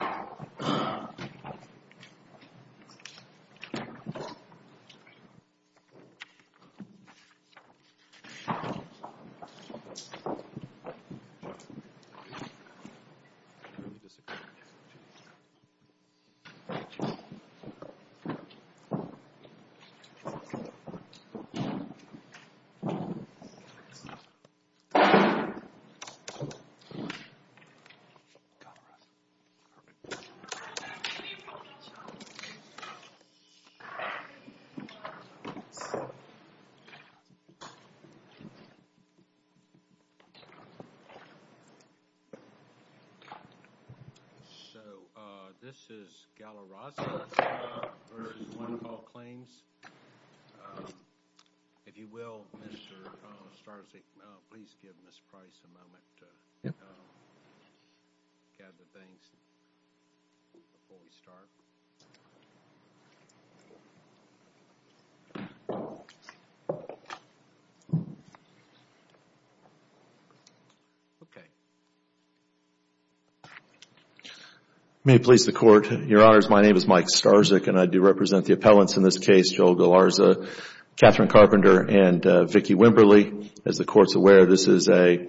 So, this is Galarza v. One Call Claims. If you will, Mr. Starzyk, please give Ms. Price a moment to gather things before we start. May it please the Court, Your Honors, my name is Mike Starzyk and I do represent the appellants in this case, Joel Galarza, Catherine Carpenter, and Vicki Wimberly. As the Court is aware, this is a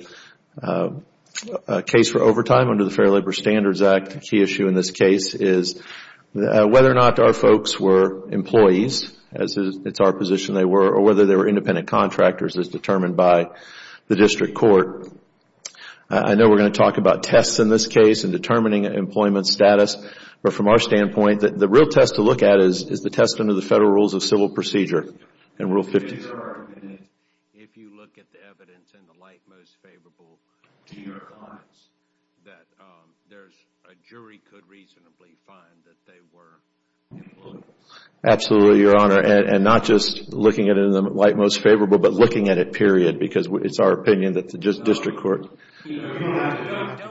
case for overtime under the Fair Labor Standards Act. The key issue in this case is whether or not our folks were employees, as it is our position they were, or whether they were independent contractors as determined by the district court. I know we are going to talk about tests in this case and determining employment status, but from our standpoint, the real test to look at is the test under the Federal Rules of Civil Procedure in Rule 50. In your opinion, if you look at the evidence in the light most favorable to your clients, that there is a jury could reasonably find that they were employees? Absolutely, Your Honor, and not just looking at it in the light most favorable, but looking at it period, because it is our opinion that the district court I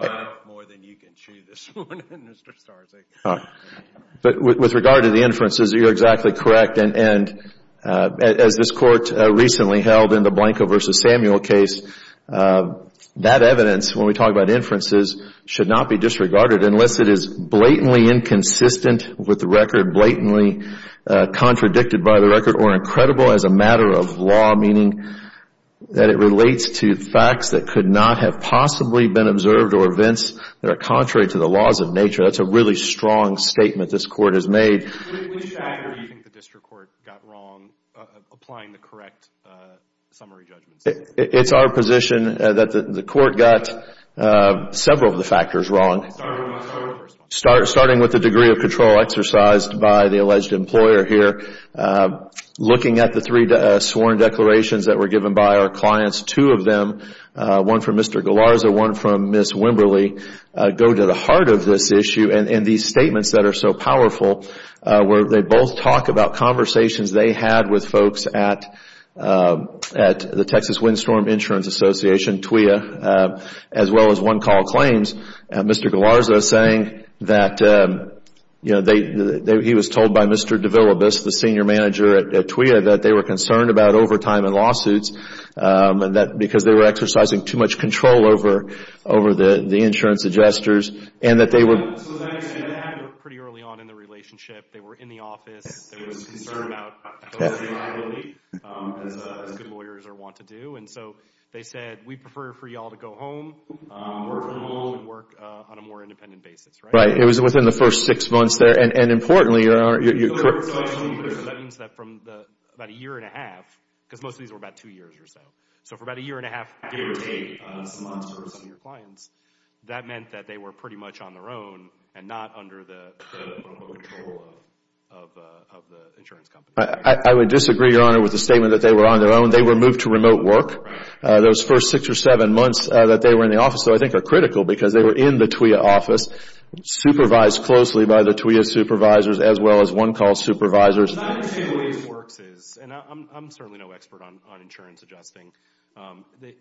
have more than you can chew this morning, Mr. Starzyk. With regard to the inferences, you are exactly correct. As this Court recently held in the Blanco v. Samuel case, that evidence, when we talk about inferences, should not be disregarded unless it is blatantly inconsistent with the record, blatantly contradicted by the record, or incredible as a matter of law, meaning that it relates to facts that could not have possibly been observed or events that are contrary to the laws of nature. That is a really strong statement this Court has made. Which factor do you think the district court got wrong applying the correct summary judgments? It is our position that the Court got several of the factors wrong, starting with the degree of control exercised by the alleged employer here, looking at the three sworn declarations that were given by our clients. Two of them, one from Mr. Galarza and one from Ms. Wimberly, go to the heart of this issue. These statements that are so powerful, they both talk about conversations they had with folks at the Texas Windstorm Insurance Association, TWIA, as well as One Call Claims. Mr. Galarza was told by Mr. DeVillibus, the senior manager at TWIA, that they were concerned about overtime and lawsuits, because they were exercising too much control over the insurance adjusters, and that they were... So that happened pretty early on in the relationship. They were in the office. They were concerned about liability, as good lawyers are wont to do. So they said, we prefer for you all to go home, work from home, and work on a more independent basis, right? Right. It was within the first six months there. And importantly, you're correct... That means that from about a year and a half, because most of these were about two years or so. So for about a year and a half, a year and a half, months for some of your clients, that meant that they were pretty much on their own and not under the control of the insurance company. I would disagree, Your Honor, with the statement that they were on their own. They were moved to remote work. Those first six or seven months that they were in the office, though, I think are critical, because they were in the TWIA office, supervised closely by the TWIA supervisors as well as one-call supervisors. The way this works is, and I'm certainly no expert on insurance adjusting.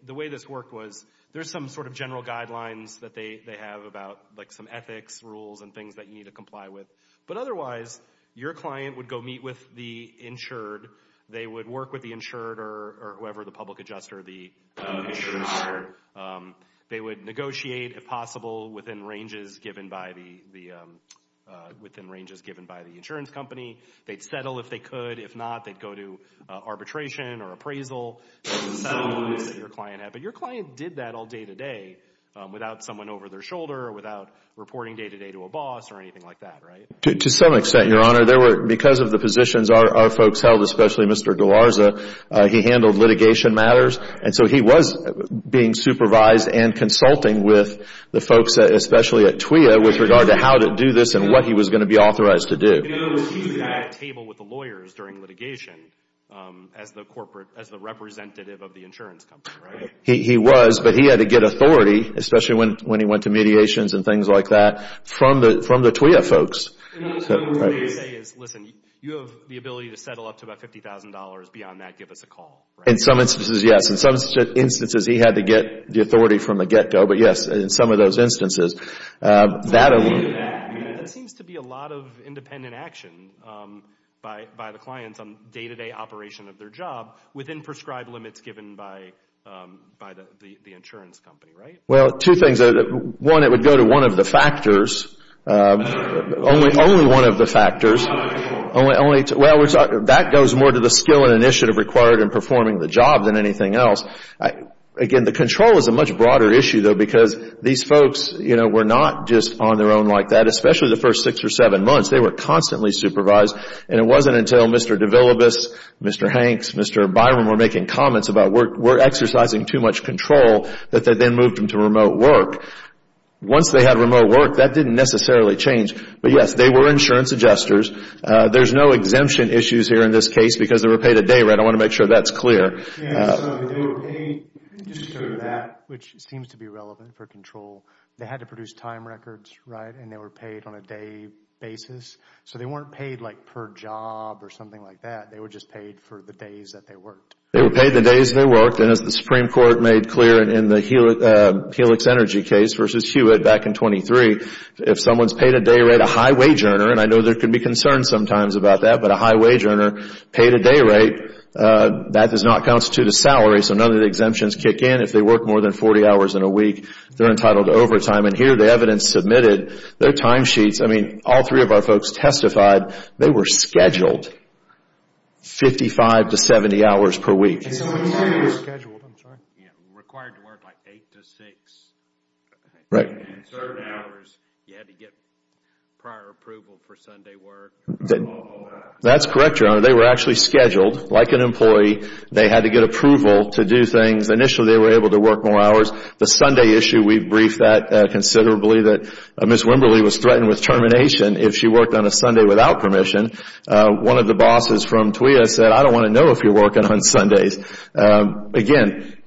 The way this worked was, there's some sort of general guidelines that they have about some ethics rules and things that you need to comply with. But otherwise, your client would go meet with the insured. They would work with the insured or whoever, the public adjuster, the insurance buyer. They would negotiate, if possible, within ranges given by the insurance company. They'd settle if they could. If not, they'd go to arbitration or appraisal. But your client did that all day-to-day without someone over their shoulder or without reporting day-to-day to a boss or anything like that, right? To some extent, Your Honor. Because of the positions our folks held, especially Mr. DeLarza, he handled litigation matters. So he was being supervised and consulting with the folks, especially at TWIA, with regard to how to do this and what he was going to be authorized to do. In other words, he was at a table with the lawyers during litigation as the representative of the insurance company, right? He was, but he had to get authority, especially when he went to mediations and things like that, from the TWIA folks. So what you're saying is, listen, you have the ability to settle up to about $50,000. Beyond that, give us a call, right? In some instances, yes. In some instances, he had to get the authority from the get-go. But yes, in some of those instances, that alone... So that seems to be a lot of independent action by the clients on day-to-day operation of their job within prescribed limits given by the insurance company, right? Well, two things. One, it would go to one of the factors. Only one of the factors. That goes more to the skill and initiative required in performing the job than anything else. Again, the control is a much broader issue, though, because these folks were not just on their own like that, especially the first six or seven months. They were constantly supervised. It wasn't until Mr. DeVillibus, Mr. Hanks, Mr. Byron were making comments about, we're going to put them to remote work. Once they had remote work, that didn't necessarily change. But yes, they were insurance adjusters. There's no exemption issues here in this case because they were paid a day, right? I want to make sure that's clear. Yes, sir. They were paid just for that, which seems to be relevant for control. They had to produce time records, right? And they were paid on a day basis. So they weren't paid like per job or something like that. They were just paid for the days that they worked. They were paid the days they worked. And as the Supreme Court made clear in the Helix Energy case versus Hewitt back in 1923, if someone's paid a day rate, a high wage earner and I know there can be concerns sometimes about that, but a high wage earner paid a day rate, that does not constitute a salary. So none of the exemptions kick in. If they work more than 40 hours in a week, they're entitled to overtime. And here the evidence submitted, their time sheets, I mean, all three of our folks testified they were scheduled 55 to 70 hours per week. They were scheduled, I'm sorry. Yeah, required to work like 8 to 6. Right. And certain hours, you had to get prior approval for Sunday work. That's correct, Your Honor. They were actually scheduled like an employee. They had to get approval to do things. Initially, they were able to work more hours. The Sunday issue, we briefed that considerably that Ms. Wimberly was threatened with termination if she worked on a Sunday without permission. One of the bosses from TWEA said, I don't want to know if you're working on Sundays. Again,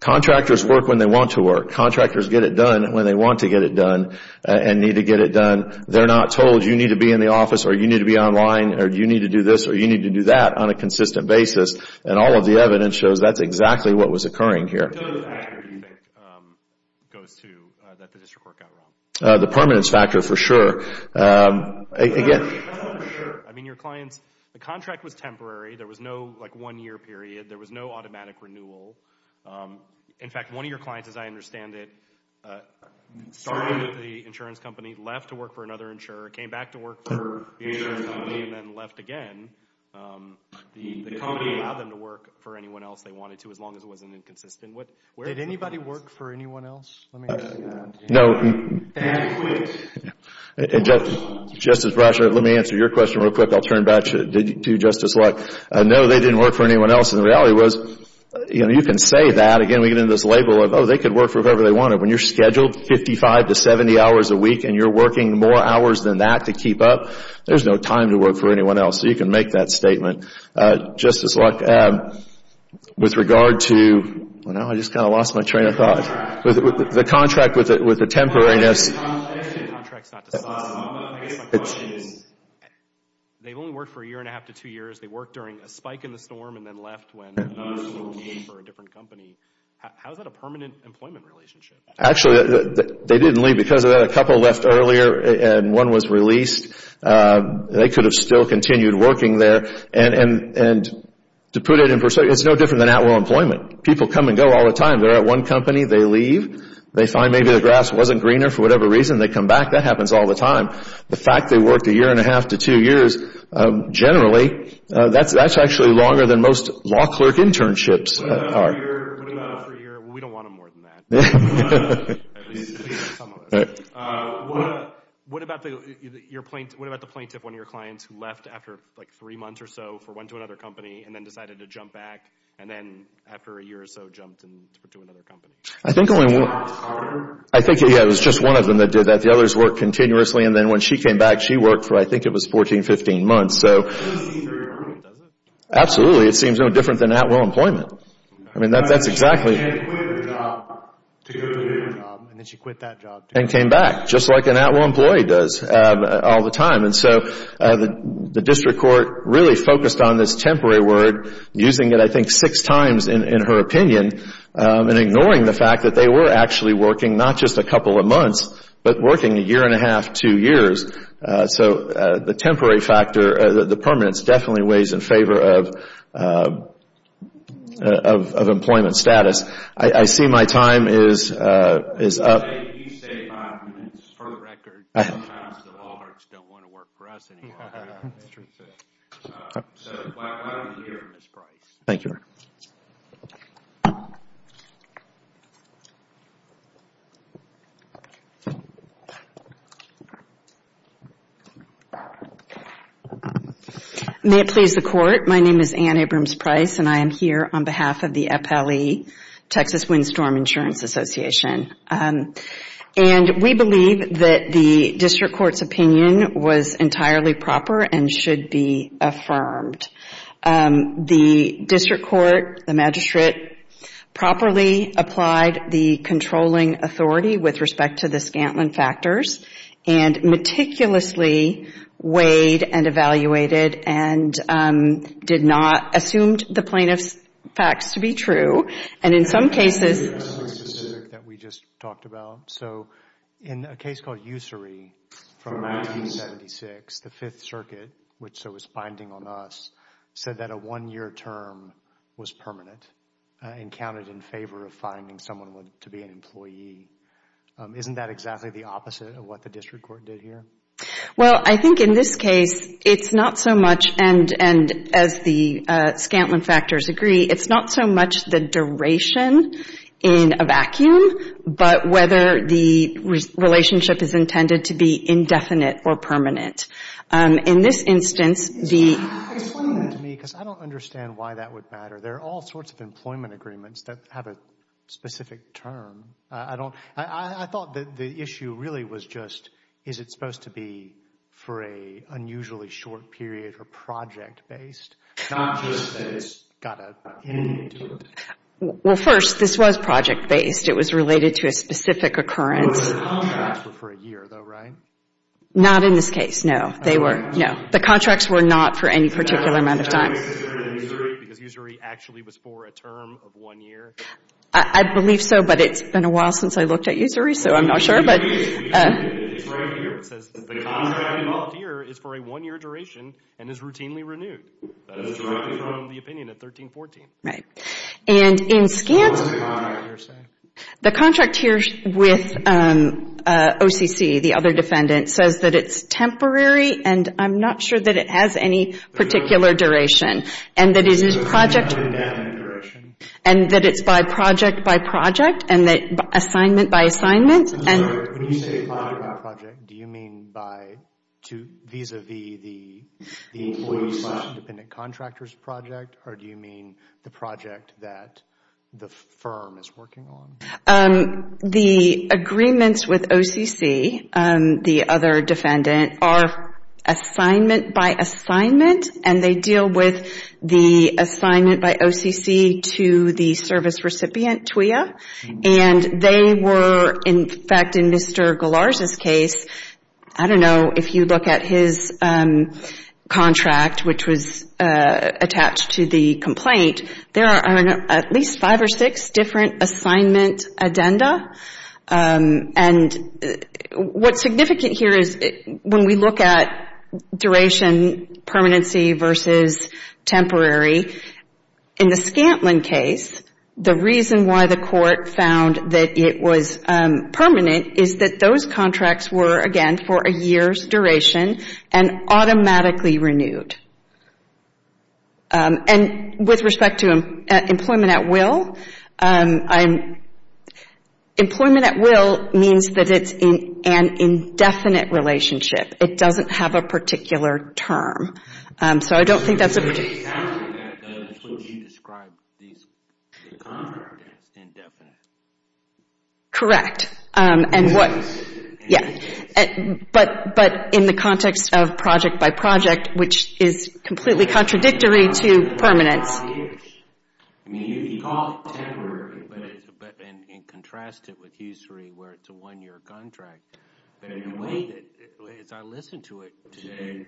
contractors work when they want to work. Contractors get it done when they want to get it done and need to get it done. They're not told you need to be in the office or you need to be online or you need to do this or you need to do that on a consistent basis. And all of the evidence shows that's exactly what was occurring here. So the factor, you think, goes to that the district court got wrong? The permanence factor, for sure. I mean, your clients, the contract was temporary. There was no one-year period. There was no automatic renewal. In fact, one of your clients, as I understand it, started with the insurance company, left to work for another insurer, came back to work for the insurance company, and then left again. The company allowed them to work for anyone else they wanted to as long as it wasn't inconsistent. Did anybody work for anyone else? Let me answer that. No. And quit. Justice Brashard, let me answer your question real quick. I'll turn back to Justice Luck. No, they didn't work for anyone else. And the reality was, you can say that. Again, we get into this label of, oh, they could work for whoever they wanted. When you're scheduled 55 to 70 hours a week and you're working more hours than that to keep up, there's no time to work for anyone else. So you can make that statement. Justice Luck, with regard to... I just kind of lost my train of thought. The contract with the temporariness... The contract's not decided. I guess my question is, they've only worked for a year and a half to two years. They worked during a spike in the storm and then left when other people came for a different company. How is that a permanent employment relationship? Actually, they didn't leave because of that. A couple left earlier and one was released. They could have still continued working there. To put it in perspective, it's no different than at-will employment. People come and go all the time. They're at one company, they leave, they find maybe the grass wasn't greener for whatever reason, they come back. That happens all the time. The fact they worked a year and a half to two years, generally, that's actually longer than most law clerk internships are. What about a free year? We don't want them more than that. At least, at least some of your clients who left after three months or so, went to another company, and then decided to jump back, and then after a year or so, jumped to another company? I think it was just one of them that did that. The others worked continuously, and then when she came back, she worked for, I think it was, 14, 15 months. Absolutely. It seems no different than at-will employment. She quit her job to go to a different job, and then she quit that job, too. Then came back, just like an at-will employee does all the time. The district court really focused on this temporary word, using it, I think, six times in her opinion, and ignoring the fact that they were actually working not just a couple of months, but working a year and a half, two years. The temporary factor, the permanence, definitely weighs in favor of employment status. I see my time is up. You say five minutes. For the record, sometimes the Walharts don't want to work for us anymore. That's true. Why don't we hear from Ms. Price? Thank you. May it please the Court. My name is Ann Abrams Price, and I am here on behalf of the FLE, Texas Windstorm Insurance Association. We believe that the district court's opinion was entirely proper and should be affirmed. The district court, the magistrate, properly applied the controlling authority with respect to the Scantlin factors, and meticulously weighed and evaluated, and did not assume the plaintiff's facts to be true. And in some cases... ...that we just talked about. So, in a case called Ussery from 1976, the Fifth Circuit, which was binding on us, said that a one-year term was permanent, and counted in favor of finding someone to be an employee. Isn't that exactly the opposite of what the district court did here? Well, I think in this case, it's not so much, and as the Scantlin factors agree, it's not so much the duration in a vacuum, but whether the relationship is intended to be indefinite or permanent. In this instance, the... Explain that to me, because I don't understand why that would matter. There are all sorts of employment agreements that have a specific term. I thought the issue really was just, is it supposed to be for a unusually short period or project-based? Not just that it's got an ending to it. Well, first, this was project-based. It was related to a specific occurrence. But the contracts were for a year, though, right? Not in this case, no. They were, no. The contracts were not for any particular amount of time. So, that makes it different than Ussery, because Ussery actually was for a term of one year? I believe so, but it's been a while since I looked at Ussery, so I'm not sure. It's right here. It says the contract involved here is for a one-year duration and is routinely renewed. That is directly from the opinion at 1314. Right. And in Scant... What does the contract here say? The contract here with OCC, the other defendant, says that it's temporary, and I'm not sure that it has any particular duration. And that it is project... And that it's by project by project, and that assignment by assignment. When you say project by project, do you mean vis-a-vis the employee-session-dependent contractor's project, or do you mean the project that the firm is working on? The agreements with OCC, the other defendant, are assignment by assignment, and they deal with the assignment by OCC to the service recipient, TWIA. And they were, in fact, in Mr. Galarza's case, I don't know if you look at his contract, which was attached to the complaint, there are at least five or six different assignment addenda. And what's significant here is when we look at duration, permanency versus temporary, in the Scantlin case, the reason why the court found that it was permanent is that those contracts were, again, for a year's duration and automatically renewed. And with respect to employment at will, employment at will means that it's an indefinite relationship. It doesn't have a particular term. So I don't think that's a particular term. In the Scantlin case, that's what you described the contract as, indefinite. Correct, but in the context of project by project, which is completely contradictory to permanence. I mean, you could call it temporary, and contrast it with HUSERI, where it's a one-year contract. But in a way, as I listened to it today,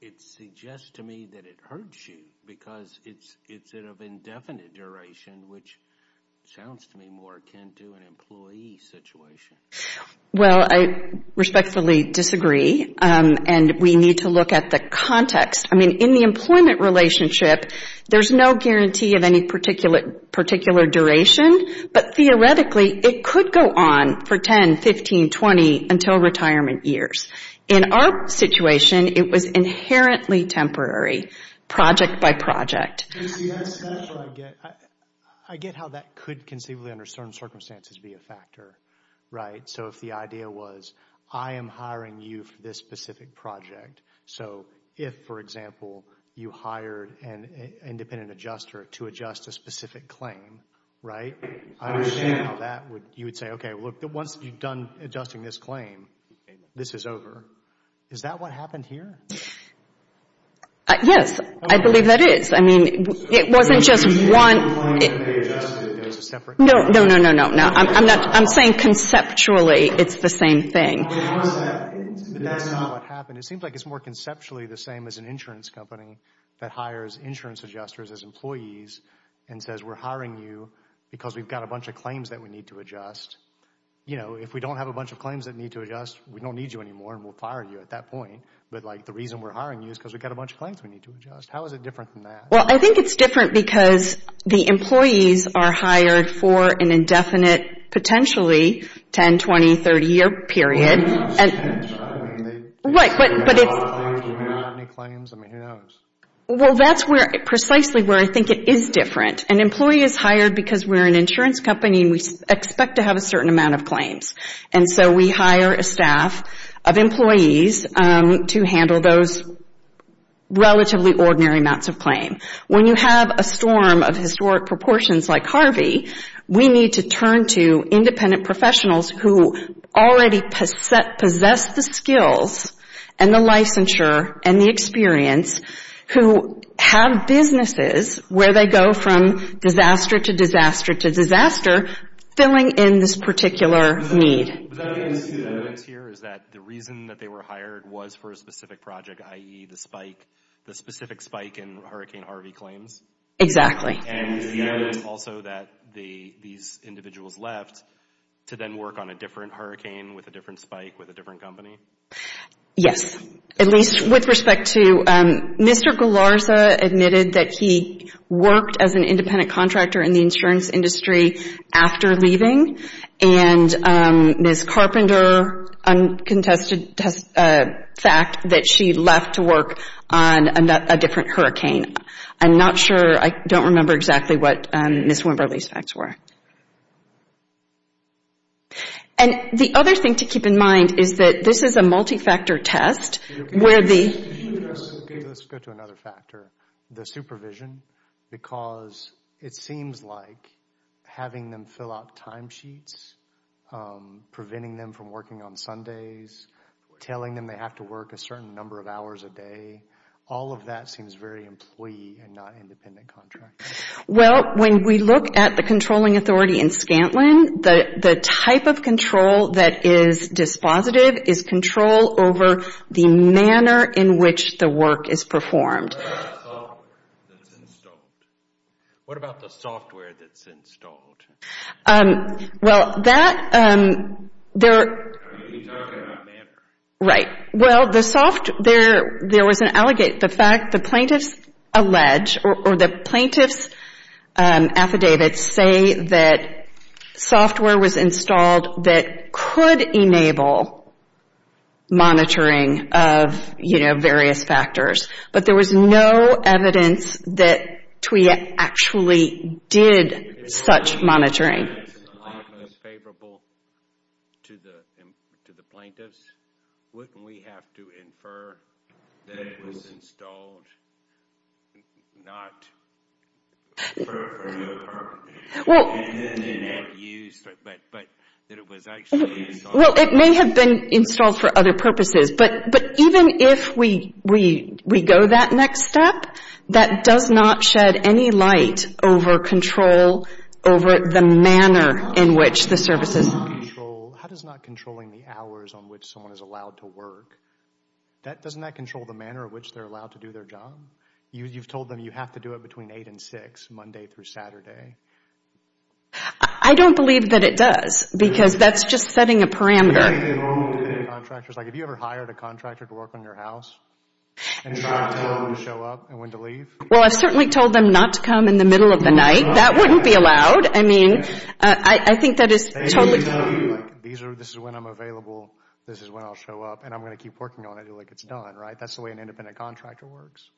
it suggests to me that it hurts you, because it's of indefinite duration, which sounds to me more akin to an employee situation. Well, I respectfully disagree, and we need to look at the context. I mean, in the employment relationship, there's no guarantee of any particular duration, but theoretically, it could go on for 10, 15, 20, until retirement years. In our situation, it was inherently temporary, project by project. I get how that could conceivably, under certain circumstances, be a factor, right? So if the idea was, I am hiring you for this specific project. So if, for example, you hired an independent adjuster to adjust a specific claim, right? I understand how that would, you would say, okay, look, once you've done adjusting this claim, this is over. Is that what happened here? Yes, I believe that is. I mean, it wasn't just one... No, no, no, no, no. I'm saying conceptually, it's the same thing. But that's not what happened. It seems like it's more conceptually the same as an insurance company that hires insurance adjusters as employees and says, we're hiring you because we've got a bunch of claims that we need to adjust. You know, if we don't have a bunch of claims that need to adjust, we don't need you anymore, and we'll fire you at that point. But like, the reason we're hiring you is because we've got a bunch of claims we need to adjust. How is it different than that? Well, I think it's different because the employees are hired for an indefinite, potentially, 10, 20, 30 year period. Right, but it's... Well, that's precisely where I think it is different. An employee is hired because we're an insurance company and we expect to have a certain amount of claims. And so we hire a staff of employees to handle those relatively ordinary amounts of claim. When you have a storm of historic proportions like Harvey, we need to turn to independent professionals who already possess the skills and the licensure and the experience, who have businesses where they go from disaster to disaster to disaster, filling in this particular need. The evidence here is that the reason that they were hired was for a specific project, i.e. the spike, the specific spike in Hurricane Harvey claims? Exactly. And is the evidence also that these individuals left to then work on a different hurricane, with a different spike, with a different company? Yes, at least with respect to... Mr. Gularza admitted that he worked as an independent contractor in the insurance industry after leaving. And Ms. Carpenter contested a fact that she left to work on a different hurricane. I'm not sure, I don't remember exactly what Ms. Wimberly's facts were. And the other thing to keep in mind is that this is a multi-factor test where the... Let's go to another factor, the supervision, because it seems like having them fill out time sheets, preventing them from working on Sundays, telling them they have to work a certain number of hours a day, all of that seems very employee and not independent contractor. Well, when we look at the controlling authority in Scantlin, the type of control that is dispositive is control over the manner in which the work is performed. What about the software that's installed? What about the software that's installed? Well, that... Are you talking about manner? Right. Well, the software, there was an allegation, the fact the plaintiffs allege, or the plaintiffs' affidavits say that software was installed that could enable monitoring of, you know, various factors. But there was no evidence that TWEA actually did such monitoring. If it's not favorable to the plaintiffs, wouldn't we have to infer that it was installed not... for no other purpose? Well... And then they never used it, but that it was actually installed... Well, it may have been installed for other purposes, but even if we go that next step, that does not shed any light over control over the manner in which the services... How does not controlling the hours on which someone is allowed to work, doesn't that control the manner in which they're allowed to do their job? You've told them you have to do it between 8 and 6, Monday through Saturday. I don't believe that it does, because that's just setting a parameter. Do you think they're normal independent contractors? Like, have you ever hired a contractor to work on your house? And try to tell them when to show up and when to leave? Well, I've certainly told them not to come in the middle of the night. That wouldn't be allowed. I mean, I think that is totally... These are... This is when I'm available, this is when I'll show up, and I'm going to keep working on it until, like, it's done, right? That's the way an independent contractor works?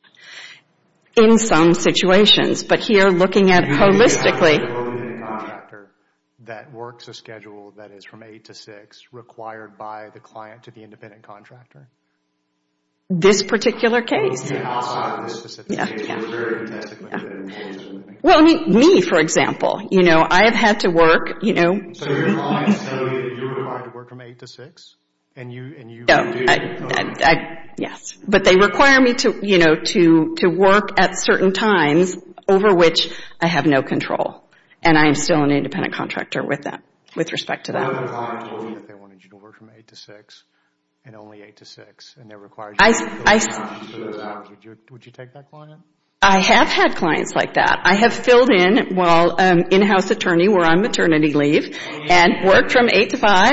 In some situations. But here, looking at it holistically... Do you think you have an independent contractor that works a schedule that is from 8 to 6, required by the client to be an independent contractor? This particular case? Outside of this specific case. We're very... Well, I mean, me, for example. You know, I have had to work, you know... So you're telling us that you're required to work from 8 to 6? And you do? Yes. But they require me to, you know, to work at certain times over which I have no control. And I am still an independent contractor with that, with respect to that. What if a client told you that they wanted you to work from 8 to 6 and only 8 to 6, and that requires you... I... Would you take that client? I have had clients like that. I have filled in while in-house attorney, where I'm maternity leave, and worked from 8 to 5...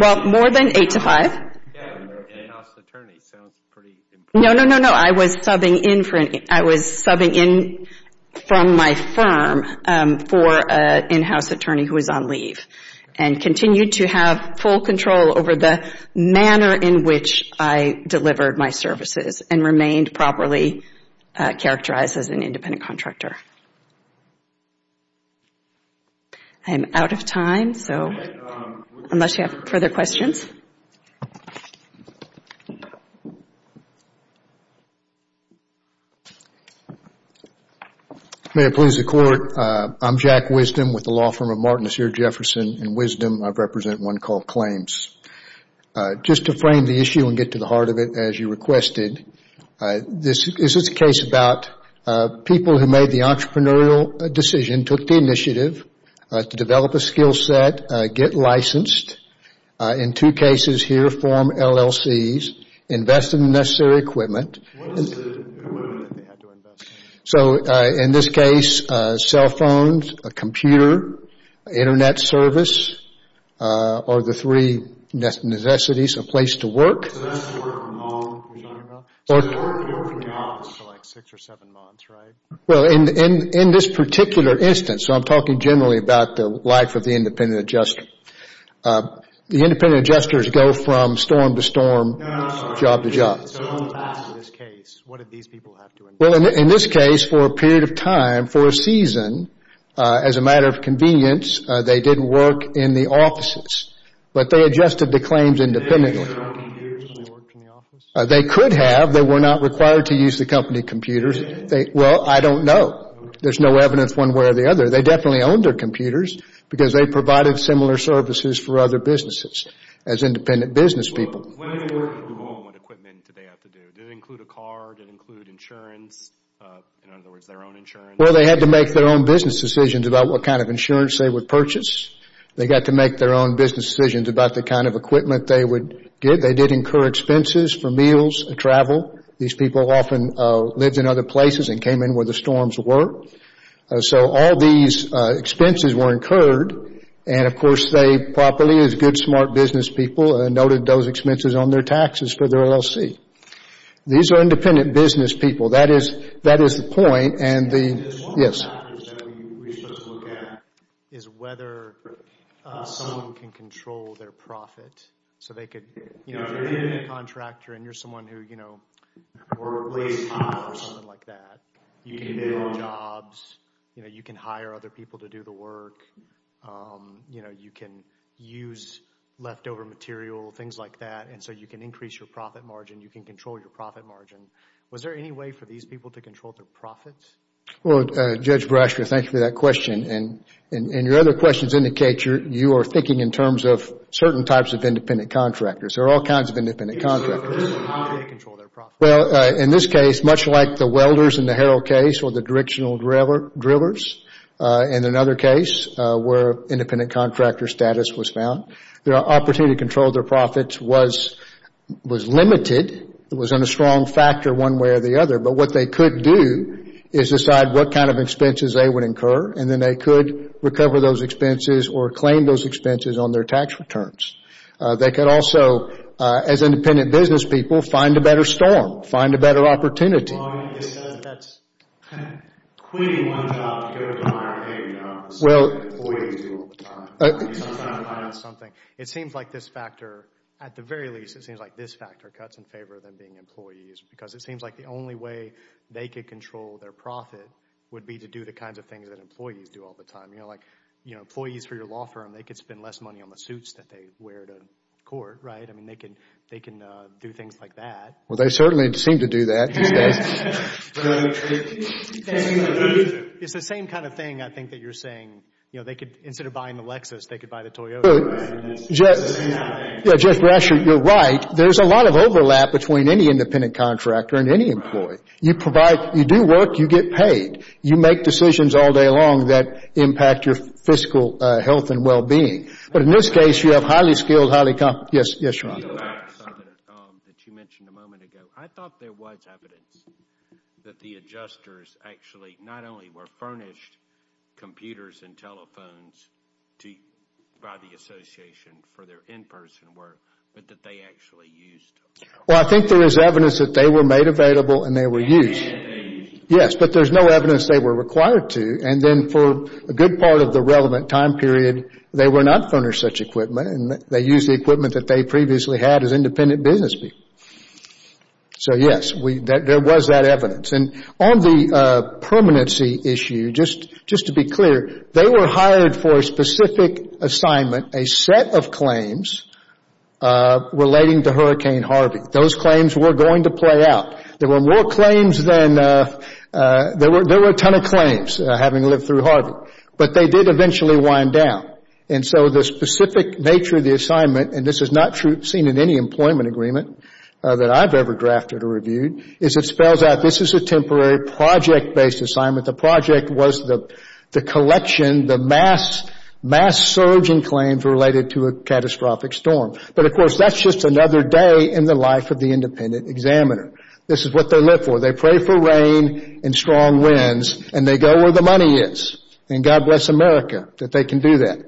Well, more than 8 to 5. Yeah, in-house attorney sounds pretty important. No, no, no, no. I was subbing in for an... I was subbing in from my firm for an in-house attorney who was on leave. And continued to have full control over the manner in which I delivered my services, and remained properly characterized as an independent contractor. I'm out of time, so... Unless you have further questions? May it please the Court, I'm Jack Wisdom with the law firm of Martin, Asir, Jefferson. In Wisdom, I represent one called Claims. Just to frame the issue and get to the heart of it, as you requested, this is a case about people who made the entrepreneurial decision, took the initiative to develop a skill set, get licensed, in two cases here, form LLCs, invested in the necessary equipment... What was the equipment that they had to invest in? So, in this case, cell phones, a computer, internet service, or the three necessities, a place to work... So that's work for a long period of time. So they work there for months. For like 6 or 7 months, right? Well, in this particular instance, so I'm talking generally about the life of the independent adjuster, the independent adjusters go from storm to storm, job to job. So, in this case, what did these people have to invest in? Well, in this case, for a period of time, for a season, as a matter of convenience, they didn't work in the offices. But they adjusted to claims independently. Did they have computers when they worked in the office? They could have. They were not required to use the company computers. Well, I don't know. There's no evidence one way or the other. They definitely owned their computers because they provided similar services for other businesses as independent business people. When they worked at home, what equipment did they have to do? Did it include a car? Did it include insurance? In other words, their own insurance? Well, they had to make their own business decisions about what kind of insurance they would purchase. They got to make their own business decisions about the kind of equipment they would get. They did incur expenses for meals and travel. These people often lived in other places and came in where the storms were. So all these expenses were incurred. And, of course, they properly, as good, smart business people, noted those expenses on their taxes for their LLC. These are independent business people. That is the point. Yes? One of the factors that we should look at is whether someone can control their profit. So they could, you know, if you're in a contractor and you're someone who, you know, or a place owner or something like that, you can do jobs. You know, you can hire other people to do the work. You know, you can use leftover material, things like that. And so you can increase your profit margin. You can control your profit margin. Was there any way for these people to control their profits? Well, Judge Brasher, thank you for that question. And your other questions indicate you are thinking in terms of certain types of independent contractors. There are all kinds of independent contractors. Well, in this case, much like the welders in the Harrell case or the directional drillers in another case where independent contractor status was found, the opportunity to control their profits was limited. It was on a strong factor one way or the other. But what they could do is decide what kind of expenses they would incur. And then they could recover those expenses or claim those expenses on their tax returns. They could also, as independent business people, find a better storm, find a better opportunity. It seems like this factor, at the very least, it seems like this factor cuts in favor of them being employees because it seems like the only way they could control their profit would be to do the kinds of things that employees do all the time. You know, like employees for your law firm, they could spend less money on the suits that they wear to court, right? I mean, they can do things like that. Well, they certainly seem to do that these days. It's the same kind of thing, I think, that you're saying. Instead of buying the Lexus, they could buy the Toyota. Judge Brasher, you're right. There's a lot of overlap between any independent contractor and any employee. You provide, you do work, you get paid. You make decisions all day long that impact your fiscal health and well-being. But in this case, you have highly-skilled, highly-competent... Yes, yes, Your Honor. On the Lex that you mentioned a moment ago, I thought there was evidence that the adjusters actually not only were furnished computers and telephones by the association for their in-person work, but that they actually used them. Well, I think there is evidence that they were made available and they were used. And they used them. Yes, but there's no evidence they were required to. And then for a good part of the relevant time period, they were not furnished such equipment, and they used the equipment that they previously had as independent business people. So, yes, there was that evidence. And on the permanency issue, just to be clear, they were hired for a specific assignment, a set of claims relating to Hurricane Harvey. Those claims were going to play out. There were more claims than... There were a ton of claims, having lived through Harvey. But they did eventually wind down. And so the specific nature of the assignment, and this is not seen in any employment agreement that I've ever drafted or reviewed, is it spells out this is a temporary project-based assignment. The project was the collection, the mass surging claims related to a catastrophic storm. But, of course, that's just another day in the life of the independent examiner. This is what they live for. They pray for rain and strong winds, and they go where the money is. And God bless America that they can do that.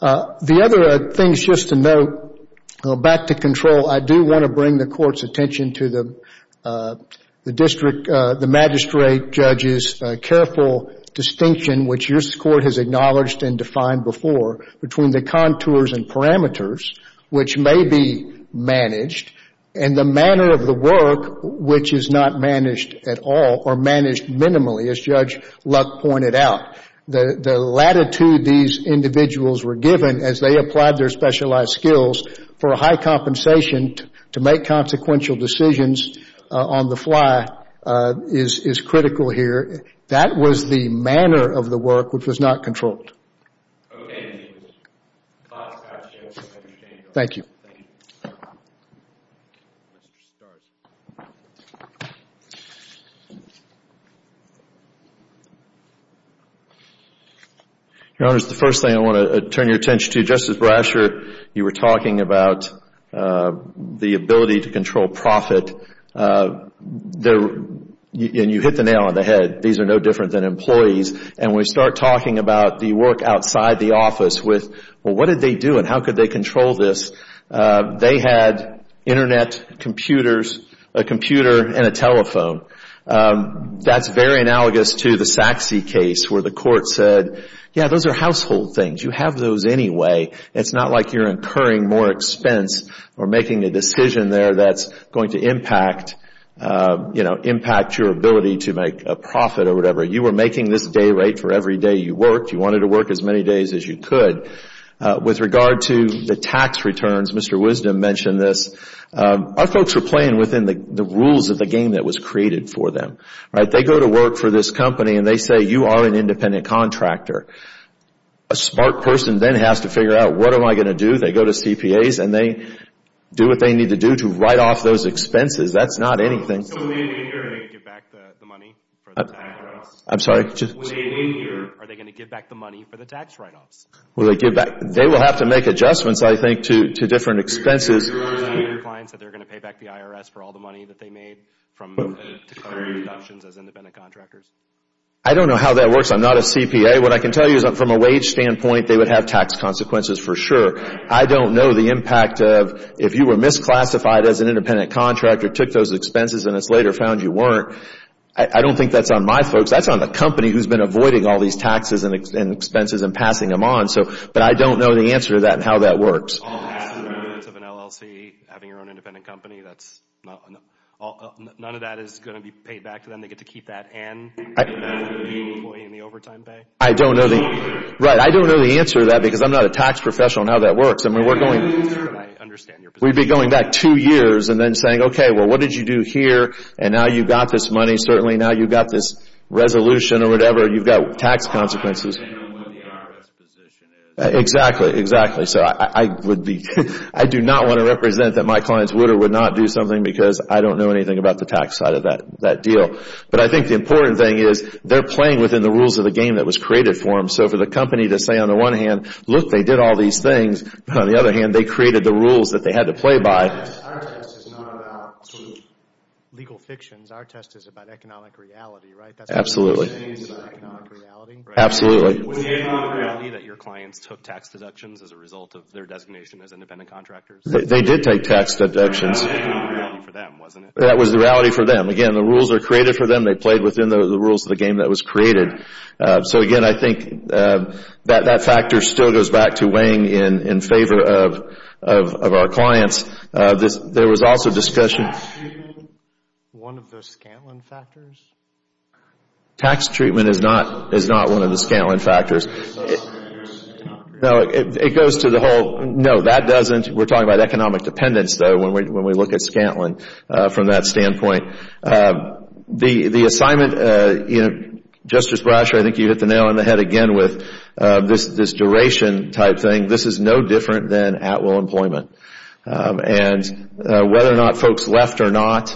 The other thing, just to note, back to control, I do want to bring the Court's attention to the magistrate judge's careful distinction, which your Court has acknowledged and defined before, between the contours and parameters, which may be managed, and the manner of the work, which is not managed at all, or managed minimally, as Judge Luck pointed out. The latitude these individuals were given as they applied their specialized skills for a high compensation to make consequential decisions on the fly is critical here. That was the manner of the work which was not controlled. Thank you. Your Honors, the first thing I want to turn your attention to, Justice Brasher, you were talking about the ability to control profit. And you hit the nail on the head. These are no different than employees. And we start talking about the work outside the office, with, well, what did they do and how could they control this? They had internet, computers, a computer, and a telephone. That's very analogous to the Sachse case, where the Court said, yeah, those are household things. You have those anyway. It's not like you're incurring more expense or making a decision there that's going to impact your ability to make a profit or whatever. You were making this day rate for every day you worked. You wanted to work as many days as you could. With regard to the tax returns, Mr. Wisdom mentioned this. Our folks were playing within the rules of the game that was created for them. They go to work for this company and they say, you are an independent contractor. A smart person then has to figure out, what am I going to do? They go to CPAs and they do what they need to do to write off those expenses. That's not anything. So when they get in here, are they going to give back the money for the tax write-offs? I'm sorry? When they get in here, are they going to give back the money for the tax write-offs? They will have to make adjustments, I think, to different expenses. Do you guarantee your clients that they're going to pay back the IRS for all the money that they made to cover deductions as independent contractors? I don't know how that works. I'm not a CPA. What I can tell you is that from a wage standpoint, they would have tax consequences for sure. I don't know the impact of if you were misclassified as an independent contractor, took those expenses, and it's later found you weren't. I don't think that's on my folks. That's on the company who's been avoiding all these taxes and expenses and passing them on. But I don't know the answer to that and how that works. All half of an LLC, having your own independent company, none of that is going to be paid back to them? They get to keep that and the employee and the overtime pay? I don't know the answer to that because I'm not a tax professional and how that works. We'd be going back two years and then saying, okay, well what did you do here and now you've got this money, certainly now you've got this resolution or whatever. You've got tax consequences. I do not want to represent that my clients would or would not do something because I don't know anything about the tax side of that deal. But I think the important thing is they're playing within the rules of the game that was created for them. So for the company to say on the one hand, look, they did all these things. On the other hand, they created the rules that they had to play by. Our test is not about legal fictions. Our test is about economic reality, right? Absolutely. Was the economic reality that your clients took tax deductions as a result of their designation as independent contractors? They did take tax deductions. That was the reality for them, wasn't it? That was the reality for them. Again, the rules are created for them. They played within the rules of the game that was created. So again, I think that factor still goes back to weighing in favor of our clients. There was also discussion... One of the Scantlin factors? Tax treatment is not one of the Scantlin factors. So it's not an independent contractor? No, it goes to the whole... No, that doesn't. We're talking about economic dependence, though, when we look at Scantlin from that standpoint. The assignment... Justice Brasher, I think you hit the nail on the head again with this duration type thing. This is no different than at-will employment. And whether or not folks left or not,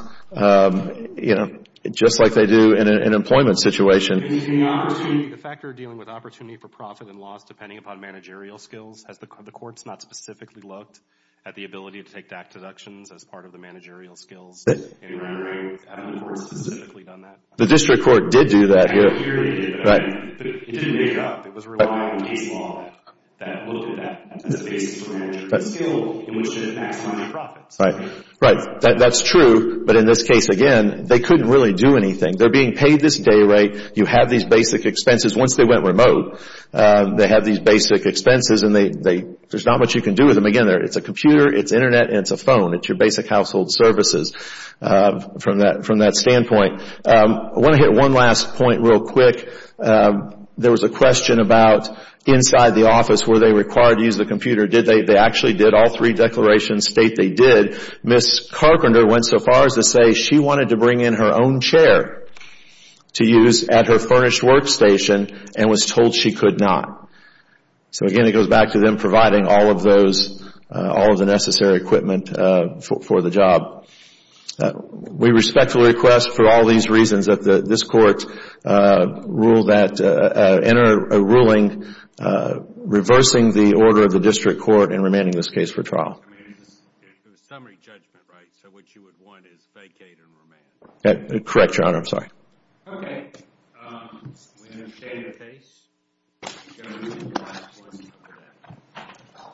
just like they do in an employment situation... Is the factor dealing with opportunity for profit and loss depending upon managerial skills? Has the courts not specifically looked at the ability to take tax deductions as part of the managerial skills? Have the courts specifically done that? The district court did do that here. But it didn't make it up. It was relying on case law that looked at that as a basis for managerial skill in which to maximize profits. Right. That's true. But in this case, again, they couldn't really do anything. They're being paid this day rate. You have these basic expenses. Once they went remote, they have these basic expenses and there's not much you can do with them. Again, it's a computer, it's internet, and it's a phone. It's your basic household services. From that standpoint. I want to hit one last point real quick. There was a question about inside the office. Were they required to use the computer? They actually did. All three declarations state they did. Ms. Carpenter went so far as to say she wanted to bring in her own chair to use at her furnished workstation and was told she could not. So again, it goes back to them providing all of those, all of the necessary equipment for the job. We respectfully request for all of these reasons that this Court enter a ruling reversing the order of the District Court and remanding this case for trial. It's a summary judgment, right? So what you would want is vacate and remand. Correct, Your Honor. I'm sorry. Okay. We understand the case.